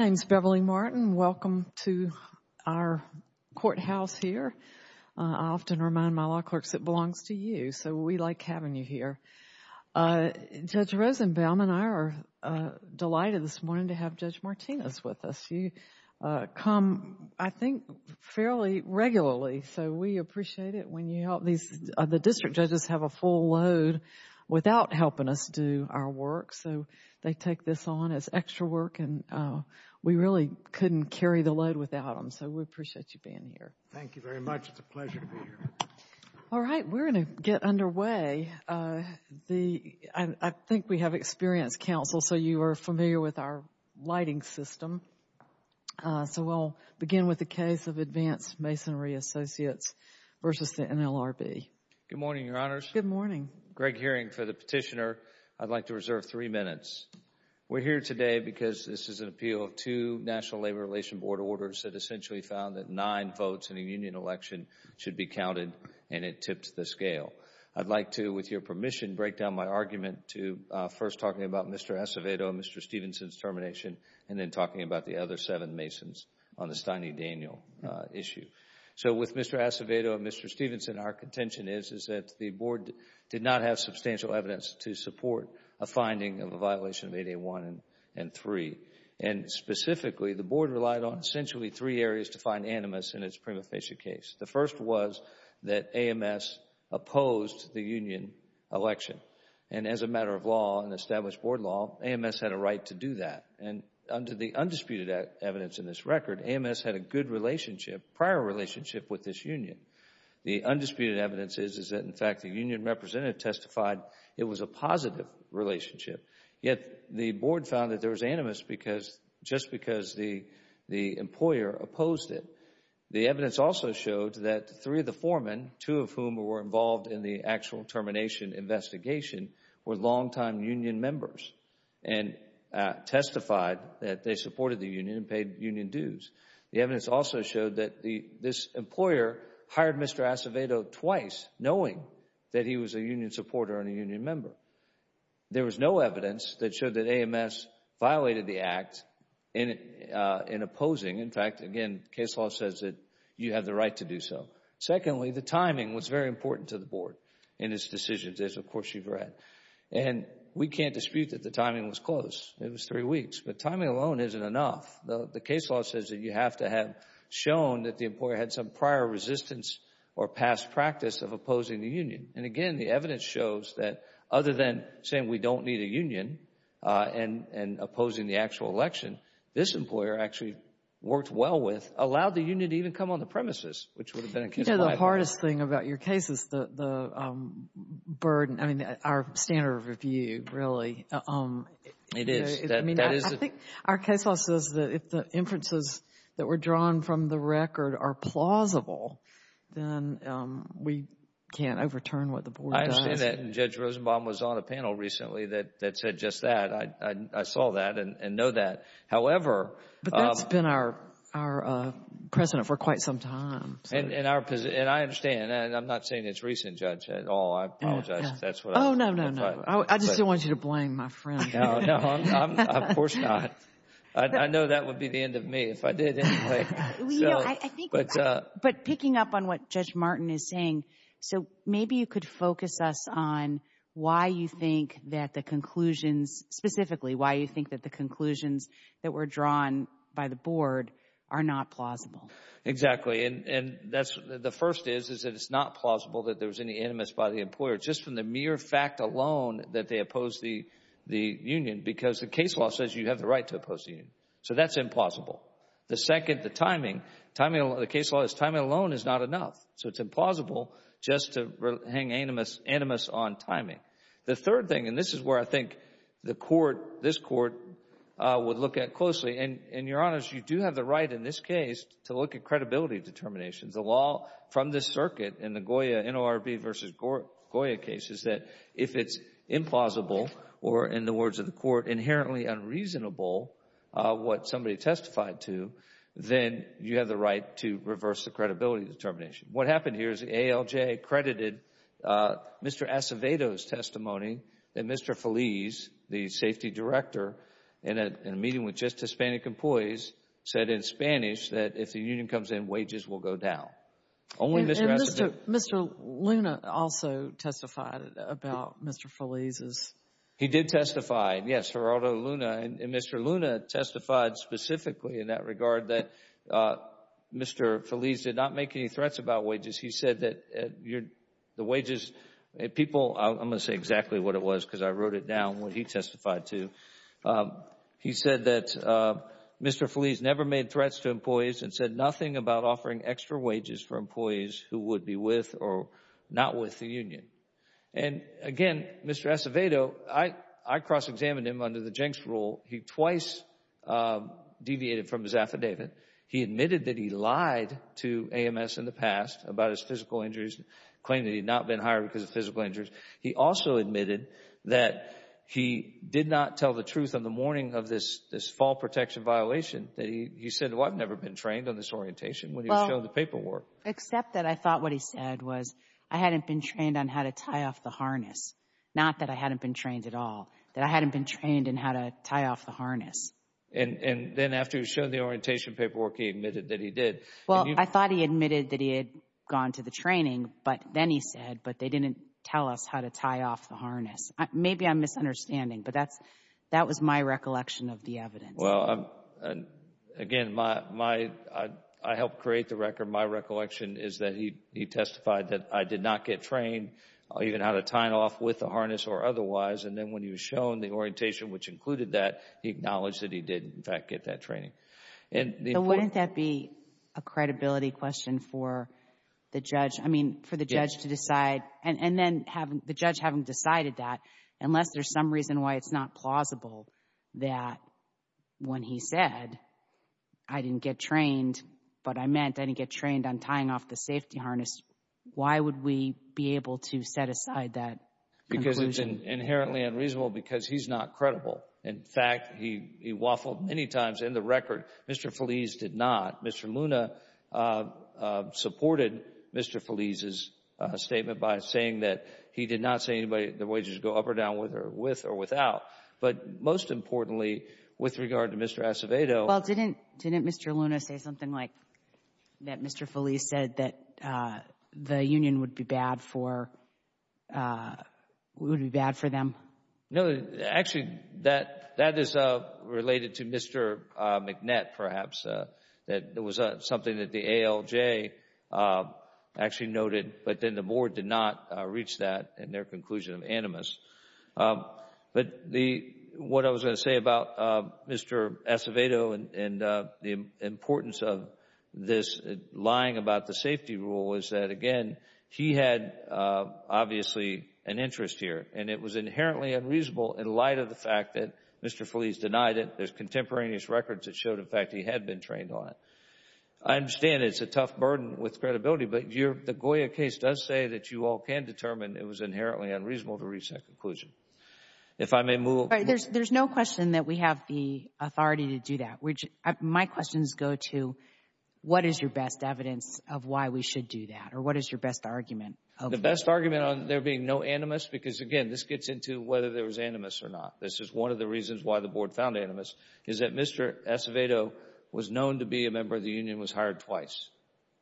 My name is Beverly Martin. Welcome to our courthouse here. I often remind my law clerks it belongs to you, so we like having you here. Judge Rosenbaum and I are delighted this morning to have Judge Martinez with us. You come, I think, fairly regularly, so we appreciate it when you help. The district judges have a full load without helping us do our work, so they take this on as extra work, and we really couldn't carry the load without them, so we appreciate you being here. Thank you very much. It's a pleasure to be here. All right. We're going to get underway. I think we have experienced counsel, so you are familiar with our lighting system. So we'll begin with the case of Advanced Masonry Associates v. the NLRB. Good morning, Your Honors. Good morning. Greg Hearing for the petitioner. I'd like to reserve three minutes. We're here today because this is an appeal of two National Labor Relations Board orders that essentially found that nine votes in a union election should be counted, and it tipped the scale. I'd like to, with your permission, break down my argument to first talking about Mr. Acevedo and Mr. Stevenson's termination, and then talking about the other seven masons on the Steny Daniel issue. So with Mr. Acevedo and Mr. Stevenson, our contention is that the Board did not have a violation of 8A1 and 3, and specifically, the Board relied on essentially three areas to find animus in its prima facie case. The first was that AMS opposed the union election, and as a matter of law and established Board law, AMS had a right to do that. And under the undisputed evidence in this record, AMS had a good relationship, prior relationship with this union. The undisputed evidence is that, in fact, the union representative testified it was a positive relationship, yet the Board found that there was animus just because the employer opposed it. The evidence also showed that three of the foremen, two of whom were involved in the actual termination investigation, were longtime union members and testified that they supported the union and paid union dues. The evidence also showed that this employer hired Mr. Acevedo twice, knowing that he was a union supporter and a union member. There was no evidence that showed that AMS violated the Act in opposing. In fact, again, case law says that you have the right to do so. Secondly, the timing was very important to the Board in its decision, as of course you've read. And we can't dispute that the timing was close. It was three weeks, but timing alone isn't enough. The case law says that you have to have shown that the employer had some prior resistance or past practice of opposing the union. And again, the evidence shows that other than saying we don't need a union and opposing the actual election, this employer actually worked well with, allowed the union to even come on the premises, which would have been a case in five years. You know, the hardest thing about your case is the burden, I mean, our standard of review, really. It is. I think our case law says that if the inferences that were drawn from the record are plausible, then we can't overturn what the Board does. I understand that. And Judge Rosenbaum was on a panel recently that said just that. I saw that and know that. However— But that's been our precedent for quite some time. And I understand, and I'm not saying it's recent, Judge, at all. I apologize if that's what— Oh, no, no, no. I just don't want you to blame my friend. No, no, of course not. I know that would be the end of me if I did anyway. Well, you know, I think— But picking up on what Judge Martin is saying, so maybe you could focus us on why you think that the conclusions, specifically why you think that the conclusions that were drawn by the Board are not plausible. Exactly. And that's, the first is, is that it's not plausible that there was any animus by the employer, just from the mere fact alone that they opposed the union, because the case law says you have the right to oppose the union. So that's implausible. The second, the timing. Timing, the case law says timing alone is not enough. So it's implausible just to hang animus on timing. The third thing, and this is where I think the Court, this Court, would look at closely, and, Your Honors, you do have the right in this case to look at credibility determinations. The law from this circuit in the Goya, NORB versus Goya case is that if it's implausible or, in the words of the Court, inherently unreasonable what somebody testified to, then you have the right to reverse the credibility determination. What happened here is the ALJ credited Mr. Acevedo's testimony that Mr. Feliz, the safety director, in a meeting with just Hispanic employees, said in Spanish that if the union comes in, wages will go down. And Mr. Luna also testified about Mr. Feliz's. He did testify, yes, Geraldo Luna, and Mr. Luna testified specifically in that regard that Mr. Feliz did not make any threats about wages. He said that the wages, people, I'm going to say exactly what it was because I wrote it down, what he testified to. He said that Mr. Feliz never made threats to employees and said nothing about offering extra wages for employees who would be with or not with the union. And again, Mr. Acevedo, I cross-examined him under the Jenks rule. He twice deviated from his affidavit. He admitted that he lied to AMS in the past about his physical injuries, claimed that he had not been hired because of physical injuries. He also admitted that he did not tell the truth on the morning of this fall protection violation that he said, well, I've never been trained on this orientation when he was showing the paperwork. Except that I thought what he said was I hadn't been trained on how to tie off the harness, not that I hadn't been trained at all, that I hadn't been trained in how to tie off the harness. And then after he was shown the orientation paperwork, he admitted that he did. Well, I thought he admitted that he had gone to the training, but then he said, but they didn't tell us how to tie off the harness. Maybe I'm misunderstanding, but that's, that was my recollection of the evidence. Well, again, my, I helped create the record. My recollection is that he testified that I did not get trained even how to tie it off with the harness or otherwise. And then when he was shown the orientation, which included that, he acknowledged that he did, in fact, get that training. But wouldn't that be a credibility question for the judge? I mean, for the judge to decide, and then the judge having decided that, unless there's some reason why it's not plausible that when he said, I didn't get trained, but I meant I didn't get trained on tying off the safety harness, why would we be able to set aside that conclusion? Because it's inherently unreasonable because he's not credible. In fact, he waffled many times in the record. Mr. Feliz did not. Mr. Luna supported Mr. Feliz's statement by saying that he did not say anybody, the wages go up or down with or without, but most importantly, with regard to Mr. Acevedo. Well, didn't, didn't Mr. Luna say something like that Mr. Feliz said that the union would be bad for, would be bad for them? No, actually, that, that is related to Mr. McNett, perhaps, that there was something that the ALJ actually noted, but then the board did not reach that in their conclusion of animus. But the, what I was going to say about Mr. Acevedo and the importance of this lying about the safety rule is that, again, he had obviously an interest here and it was inherently unreasonable in light of the fact that Mr. Feliz denied it. There's contemporaneous records that showed, in fact, he had been trained on it. I understand it's a tough burden with credibility, but your, the Goya case does say that you all can determine it was inherently unreasonable to reach that conclusion. If I may move. All right, there's, there's no question that we have the authority to do that. My questions go to what is your best evidence of why we should do that or what is your best argument? The best argument on there being no animus because, again, this gets into whether there was animus or not. This is one of the reasons why the board found animus is that Mr. Acevedo was known to be a member of the union, was hired twice.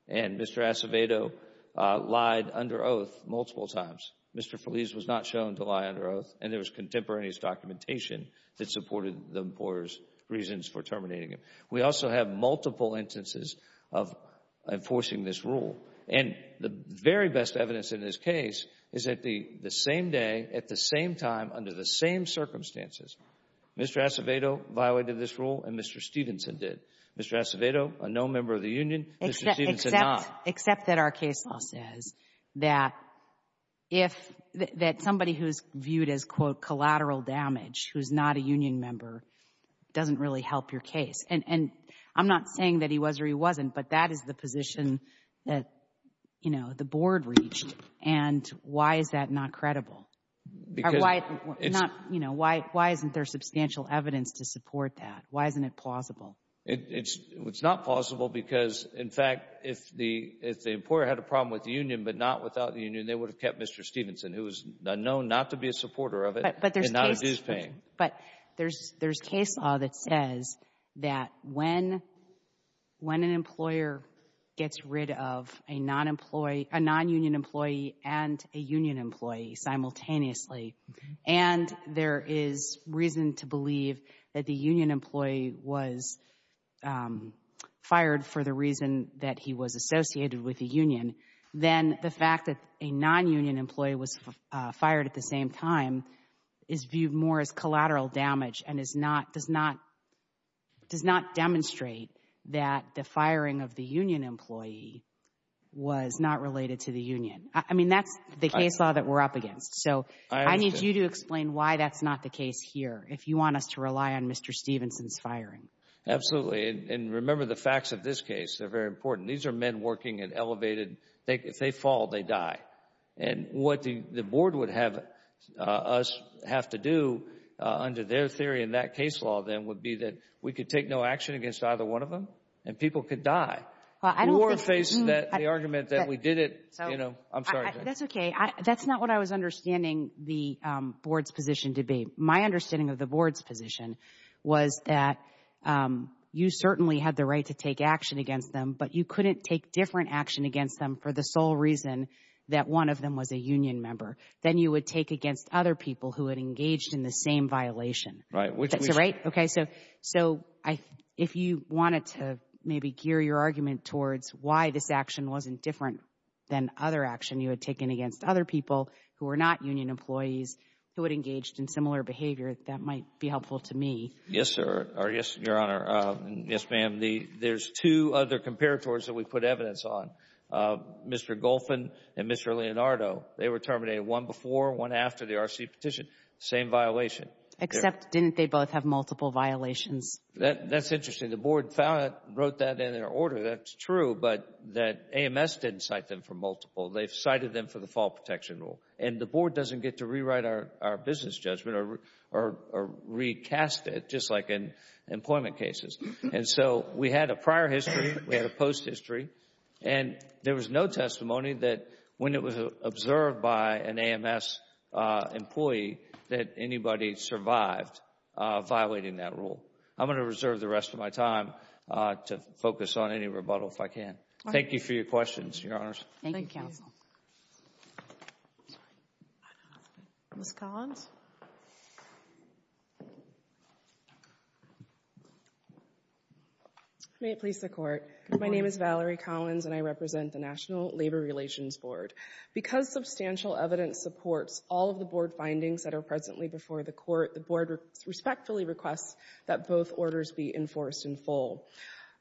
And Mr. Acevedo lied under oath multiple times. Mr. Feliz was not shown to lie under oath and there was contemporaneous documentation that supported the employer's reasons for terminating him. We also have multiple instances of enforcing this rule and the very best evidence in this case is that the same day, at the same time, under the same circumstances, Mr. Acevedo violated this rule and Mr. Stevenson did. Mr. Acevedo, a known member of the union, Mr. Stevenson did not. Except that our case law says that if, that somebody who's viewed as, quote, collateral damage, who's not a union member, doesn't really help your case. And, and I'm not saying that he was or he wasn't, but that is the position that, you know, the board reached. And why is that not credible? Because it's not, you know, why, why isn't there substantial evidence to support that? Why isn't it plausible? It's, it's not plausible because, in fact, if the, if the employer had a problem with the union but not without the union, they would have kept Mr. Stevenson, who is known not to be a supporter of it and not a dues paying. But there's, there's case law that says that when, when an employer gets rid of a non-employee, a non-union employee and a union employee simultaneously and there is reason to believe that the union employee was fired for the reason that he was associated with the union, then the fact that a non-union employee was fired at the same time is viewed more as collateral damage and is not, does not, does not demonstrate that the firing of the union employee was not related to the union. I mean, that's the case law that we're up against. So I need you to explain why that's not the case here, if you want us to rely on Mr. Stevenson's firing. Absolutely. And remember the facts of this case. They're very important. These are men working at elevated, if they fall, they die. And what the, the board would have us have to do under their theory in that case law then would be that we could take no action against either one of them and people could die. Well, I don't think. The board faced that, the argument that we did it, you know. I'm sorry. That's okay. That's not what I was understanding the board's position to be. My understanding of the board's position was that you certainly had the right to take action against them, but you couldn't take different action against them for the sole reason that one of them was a union member. Then you would take against other people who had engaged in the same violation. Right. Which is right. Okay. So, so I, if you wanted to maybe gear your argument towards why this action wasn't different than other action you had taken against other people who were not union employees, who had engaged in similar behavior, that might be helpful to me. Yes, sir. Or yes, your honor. Yes, ma'am. The, there's two other comparators that we put evidence on. Mr. Golfin and Mr. Leonardo. They were terminated one before, one after the RC petition. Same violation. Except, didn't they both have multiple violations? That's interesting. The board found it, wrote that in their order. That's true. But that AMS didn't cite them for multiple. They've cited them for the fall protection rule. And the board doesn't get to rewrite our, our business judgment or, or, or recast it, just like in employment cases. And so we had a prior history. We had a post history. And there was no testimony that when it was observed by an AMS employee that anybody survived violating that rule. I'm going to reserve the rest of my time to focus on any rebuttal if I can. Thank you for your questions, your honors. Thank you, counsel. Ms. Collins. May it please the court. My name is Valerie Collins and I represent the National Labor Relations Board. Because substantial evidence supports all of the board findings that are presently before the court, the board respectfully requests that both orders be enforced in full.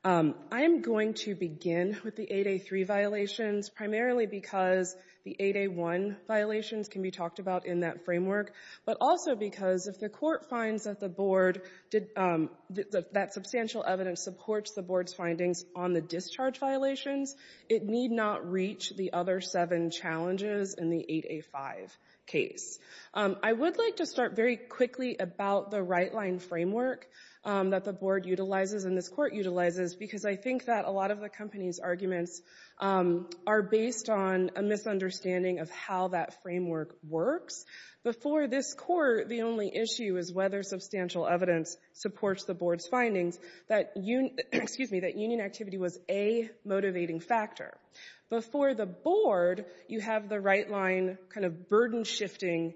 I am going to begin with the 8A3 violations primarily because the 8A1 violations can be talked about in that framework, but also because if the court finds that the board did, that substantial evidence supports the board's findings on the discharge violations, it need not reach the other seven challenges in the 8A5 case. I would like to start very quickly about the right line framework that the board utilizes and this court utilizes because I think that a lot of the company's arguments are based on a misunderstanding of how that framework works. Before this court, the only issue is whether substantial evidence supports the board's findings that union activity was a motivating factor. Before the board, you have the right line kind of burden shifting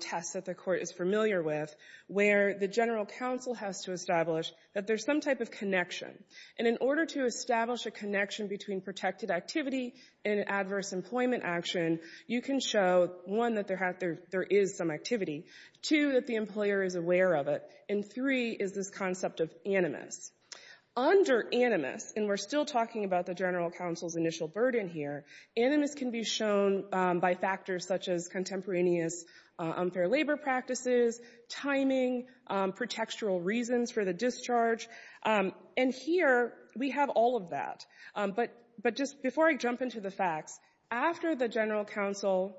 test that the court is familiar with, where the general counsel has to establish that there's some type of connection. And in order to establish a connection between protected activity and adverse employment action, you can show, one, that there is some activity, two, that the employer is aware Under animus, and we're still talking about the general counsel's initial burden here, animus can be shown by factors such as contemporaneous unfair labor practices, timing, pretextual reasons for the discharge. And here, we have all of that. But just before I jump into the facts, after the general counsel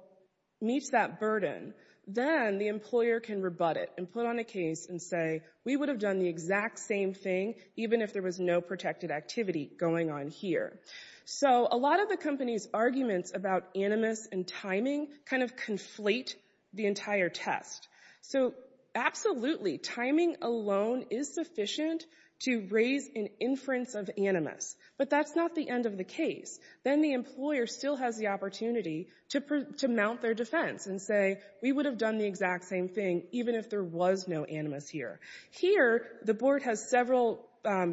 meets that burden, then the employer can rebut it and put on a case and say, we would have done the exact same thing even if there was no protected activity going on here. So a lot of the company's arguments about animus and timing kind of conflate the entire test. So absolutely, timing alone is sufficient to raise an inference of animus. But that's not the end of the case. Then the employer still has the opportunity to mount their defense and say, we would have done the exact same thing even if there was no animus here. Here, the board has several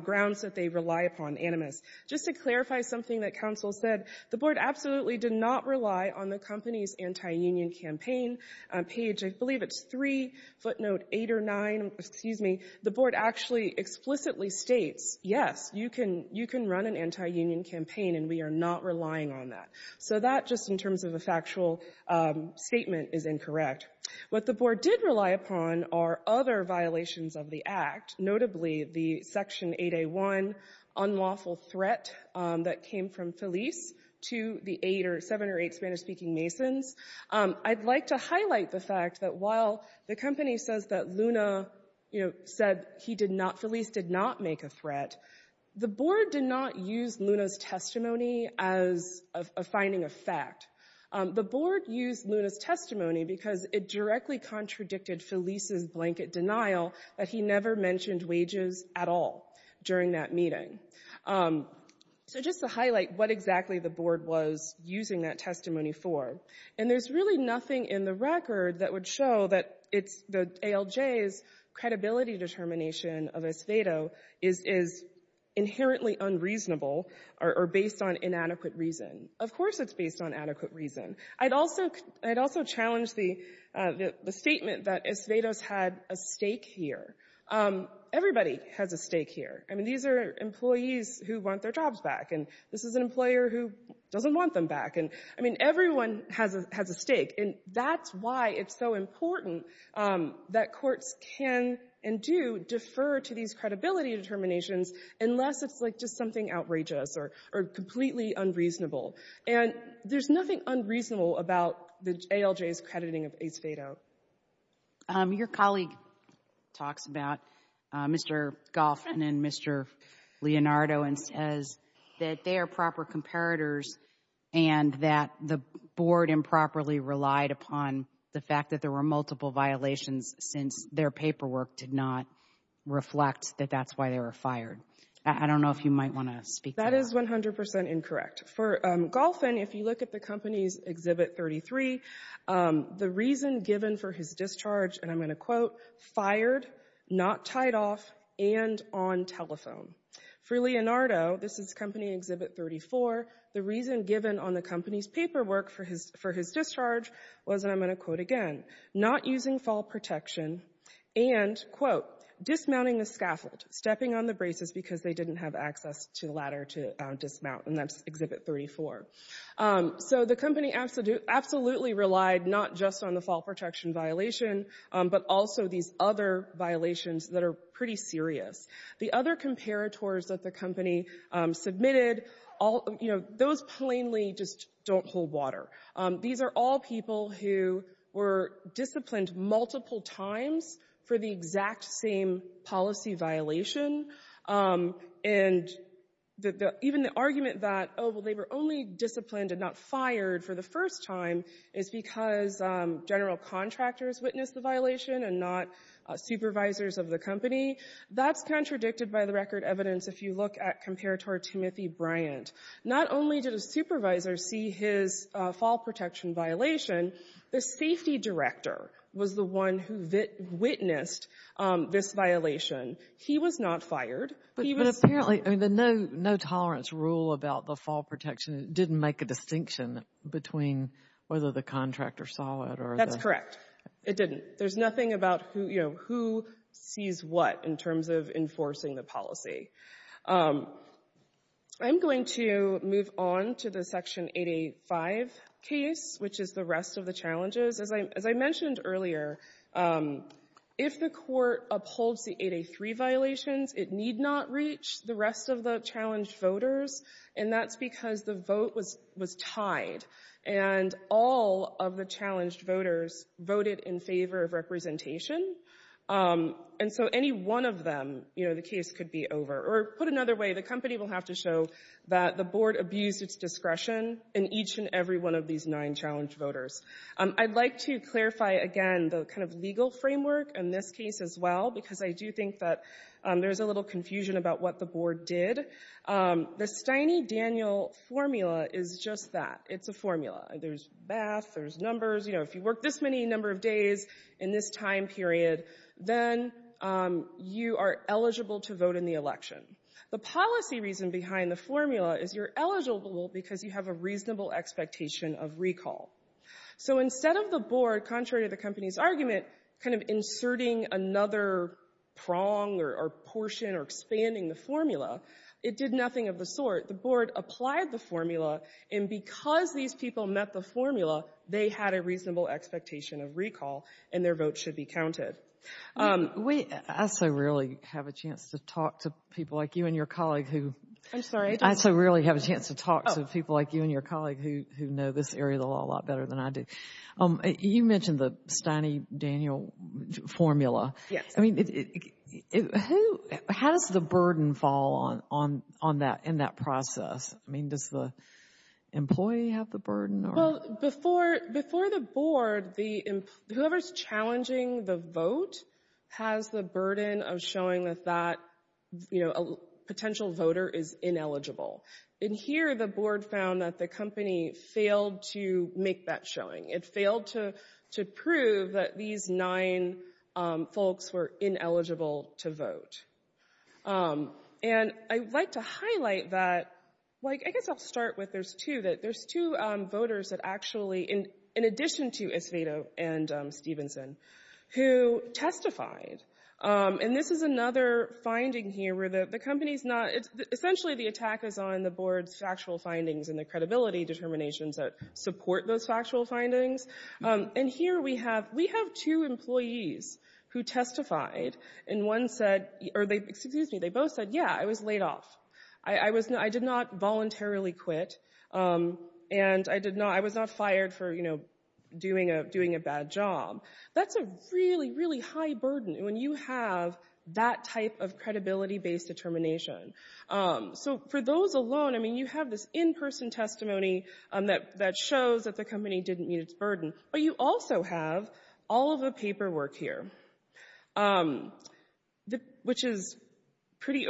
grounds that they rely upon animus. Just to clarify something that counsel said, the board absolutely did not rely on the company's anti-union campaign page. I believe it's three, footnote eight or nine, excuse me. The board actually explicitly states, yes, you can run an anti-union campaign, and we are not relying on that. So that, just in terms of a factual statement, is incorrect. What the board did rely upon are other violations of the act, notably the Section 8A1 unlawful threat that came from Feliz to the seven or eight Spanish-speaking Masons. I'd like to highlight the fact that while the company says that Luna said Feliz did not make a threat, the board did not use Luna's testimony as a finding of fact. The board used Luna's testimony because it directly contradicted Feliz's blanket denial that he never mentioned wages at all during that meeting. So just to highlight what exactly the board was using that testimony for, and there's really nothing in the record that would show that it's, that ALJ's credibility determination of Es Vedo is inherently unreasonable or based on inadequate reason. Of course it's based on adequate reason. I'd also challenge the statement that Es Vedo's had a stake here. Everybody has a stake here. I mean, these are employees who want their jobs back, and this is an employer who doesn't want them back. And, I mean, everyone has a stake. And that's why it's so important that courts can and do defer to these credibility determinations unless it's like just something outrageous or completely unreasonable. And there's nothing unreasonable about the ALJ's crediting of Es Vedo. Your colleague talks about Mr. Goffman and Mr. Leonardo and says that they are proper comparators and that the board improperly relied upon the fact that there were multiple violations since their paperwork did not reflect that that's why they were fired. I don't know if you might want to speak to that. That is 100 percent incorrect. For Goffman, if you look at the company's Exhibit 33, the reason given for his discharge, and I'm going to quote, fired, not tied off, and on telephone. For Leonardo, this is Company Exhibit 34, the reason given on the company's paperwork for his discharge was, and I'm going to quote again, not using fall protection and, quote, dismounting the scaffold, stepping on the braces because they didn't have access to the ladder to dismount. And that's Exhibit 34. So the company absolutely relied not just on the fall protection violation, but also these other violations that are pretty serious. The other comparators that the company submitted, those plainly just don't hold water. These are all people who were disciplined multiple times for the exact same policy violation. And even the argument that, oh, well, they were only disciplined and not fired for the first time is because general contractors witnessed the violation and not supervisors of the company. That's contradicted by the record evidence if you look at Comparator Timothy Bryant. Not only did a supervisor see his fall protection violation, the safety director was the one who witnessed this violation. He was not fired. He was- But apparently, I mean, the no-tolerance rule about the fall protection didn't make a distinction between whether the contractor saw it or- That's correct. It didn't. There's nothing about who sees what in terms of enforcing the policy. I'm going to move on to the Section 885 case, which is the rest of the challenges. As I mentioned earlier, if the court upholds the 883 violations, it need not reach the rest of the challenged voters. And that's because the vote was tied. And all of the challenged voters voted in favor of representation. And so any one of them, you know, the case could be over. Or put another way, the company will have to show that the board abused its discretion in each and every one of these nine challenged voters. I'd like to clarify, again, the kind of legal framework in this case as well, because I do think that there's a little confusion about what the board did. The Steine-Daniel formula is just that. It's a formula. There's math. There's numbers. You know, if you work this many number of days in this time period, then you are eligible to vote in the election. The policy reason behind the formula is you're eligible because you have a reasonable expectation of recall. So instead of the board, contrary to the company's argument, kind of inserting another prong or portion or expanding the formula, it did nothing of the sort. The board applied the formula. And because these people met the formula, they had a reasonable expectation of recall, and their vote should be counted. MS. WARREN. We also rarely have a chance to talk to people like you and your colleague who— MS. WARREN. I'm sorry? MS. WARREN. I also rarely have a chance to talk to people like you and your colleague who know this area of the law a lot better than I do. You mentioned the Steine-Daniel formula. MS. WARREN. WARREN. I mean, how does the burden fall on that in that process? I mean, does the employee have the burden? WARREN. Before the board, whoever's challenging the vote has the burden of showing that that potential voter is ineligible. In here, the board found that the company failed to make that showing. It failed to prove that these nine folks were ineligible to vote. And I'd like to highlight that—I guess I'll start with there's two voters that actually, in addition to Acevedo and Stevenson, who testified. And this is another finding here where the company's not—essentially, the attack is on the board's factual findings and the credibility determinations that support those factual findings. And here we have two employees who testified, and one said—or, excuse me, they both said, yeah, I was laid off. I did not voluntarily quit, and I was not fired for doing a bad job. That's a really, really high burden when you have that type of credibility-based determination. So for those alone, I mean, you have this in-person testimony that shows that the company didn't meet its burden. But you also have all of the paperwork here, which is pretty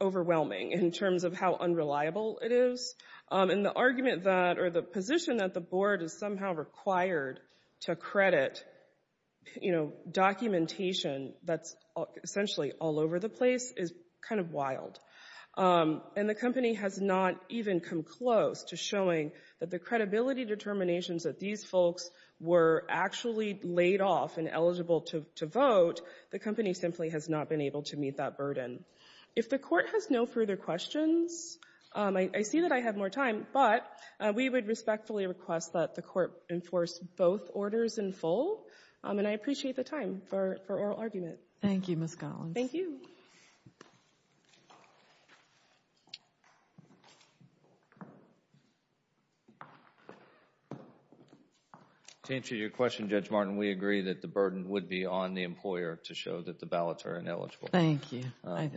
overwhelming in terms of how unreliable it is. And the argument that—or the position that the board is somehow required to credit, you know, documentation that's essentially all over the place is kind of wild. And the company has not even come close to showing that the credibility determinations that these folks were actually laid off and eligible to vote. The company simply has not been able to meet that burden. If the Court has no further questions, I see that I have more time. But we would respectfully request that the Court enforce both orders in full. And I appreciate the time for oral argument. Thank you, Ms. Collins. Thank you. To answer your question, Judge Martin, we agree that the burden would be on the employer to show that the ballots are ineligible. Thank you. I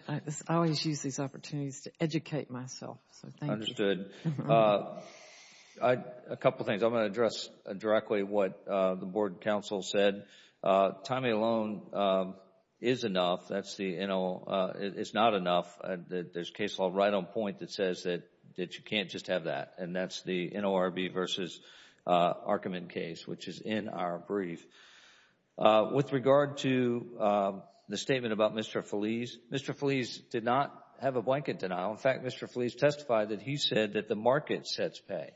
always use these opportunities to educate myself. So thank you. Understood. A couple things. I'm going to address directly what the board counsel said. Timing alone is enough. That's the NO—it's not enough. There's a case law right on point that says that you can't just have that. And that's the NORB v. Arkaman case, which is in our brief. With regard to the statement about Mr. Feliz, Mr. Feliz did not have a blanket denial. In fact, Mr. Feliz testified that he said that the market sets pay.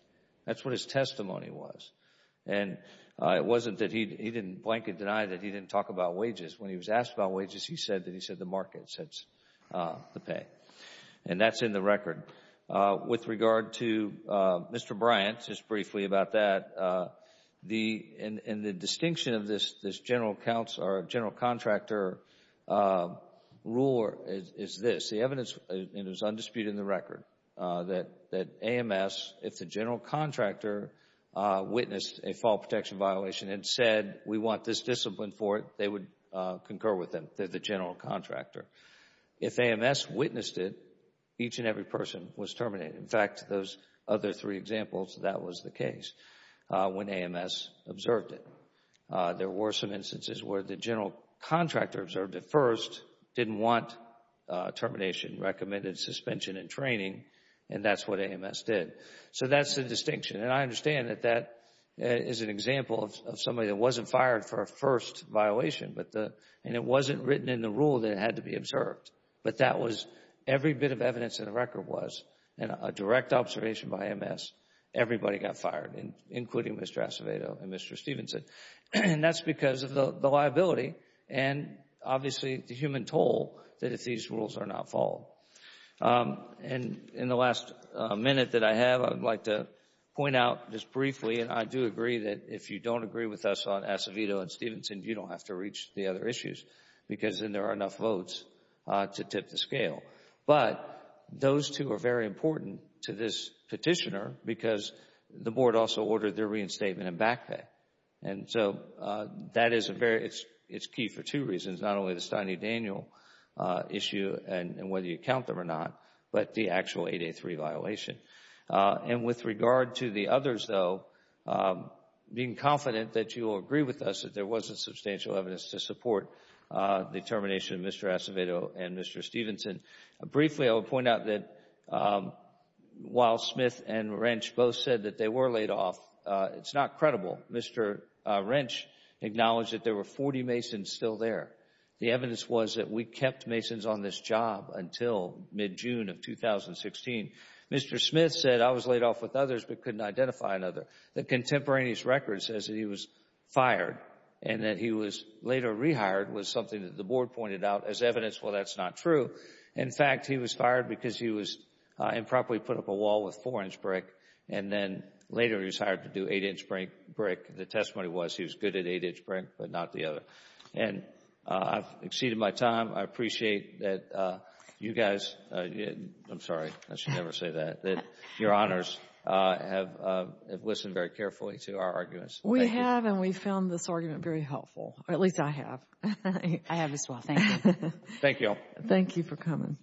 That's what his testimony was. And it wasn't that he didn't blanket deny that he didn't talk about wages. When he was asked about wages, he said that he said the market sets the pay. And that's in the record. With regard to Mr. Bryant, just briefly about that, the—and the distinction of this general counsel or general contractor ruler is this. The evidence—and it was undisputed in the record—that AMS, if the general contractor witnessed a fault protection violation and said we want this discipline for it, they would concur with them. They're the general contractor. If AMS witnessed it, each and every person was terminated. In fact, those other three examples, that was the case when AMS observed it. There were some instances where the general contractor observed it first, didn't want termination, recommended suspension in training, and that's what AMS did. So that's the distinction. And I understand that that is an example of somebody that wasn't fired for a first violation, but the—and it wasn't written in the rule that it had to be observed. But that was—every bit of evidence in the record was a direct observation by AMS. Everybody got fired, including Mr. Acevedo and Mr. Stevenson. That's because of the liability and obviously the human toll that if these rules are not followed. In the last minute that I have, I'd like to point out just briefly, and I do agree that if you don't agree with us on Acevedo and Stevenson, you don't have to reach the other issues because then there are enough votes to tip the scale. But those two are very important to this petitioner because the board also ordered their reinstatement and back pay. And so that is a very—it's key for two reasons. Not only the Stein v. Daniel issue and whether you count them or not, but the actual 8A3 violation. And with regard to the others, though, being confident that you will agree with us that there wasn't substantial evidence to support the termination of Mr. Acevedo and Mr. Stevenson. Briefly, I will point out that while Smith and Wrench both said that they were laid off, it's not credible. Mr. Wrench acknowledged that there were 40 masons still there. The evidence was that we kept masons on this job until mid-June of 2016. Mr. Smith said, I was laid off with others but couldn't identify another. The contemporaneous record says that he was fired and that he was later rehired was something that the board pointed out as evidence. Well, that's not true. In fact, he was fired because he improperly put up a wall with 4-inch brick and then later he was hired to do 8-inch brick. The testimony was he was good at 8-inch brick but not the other. And I've exceeded my time. I appreciate that you guys, I'm sorry, I should never say that, that your honors have listened very carefully to our arguments. Thank you. We have and we found this argument very helpful, or at least I have. I have as well. Thank you. Thank you all. Thank you for coming. Thank you.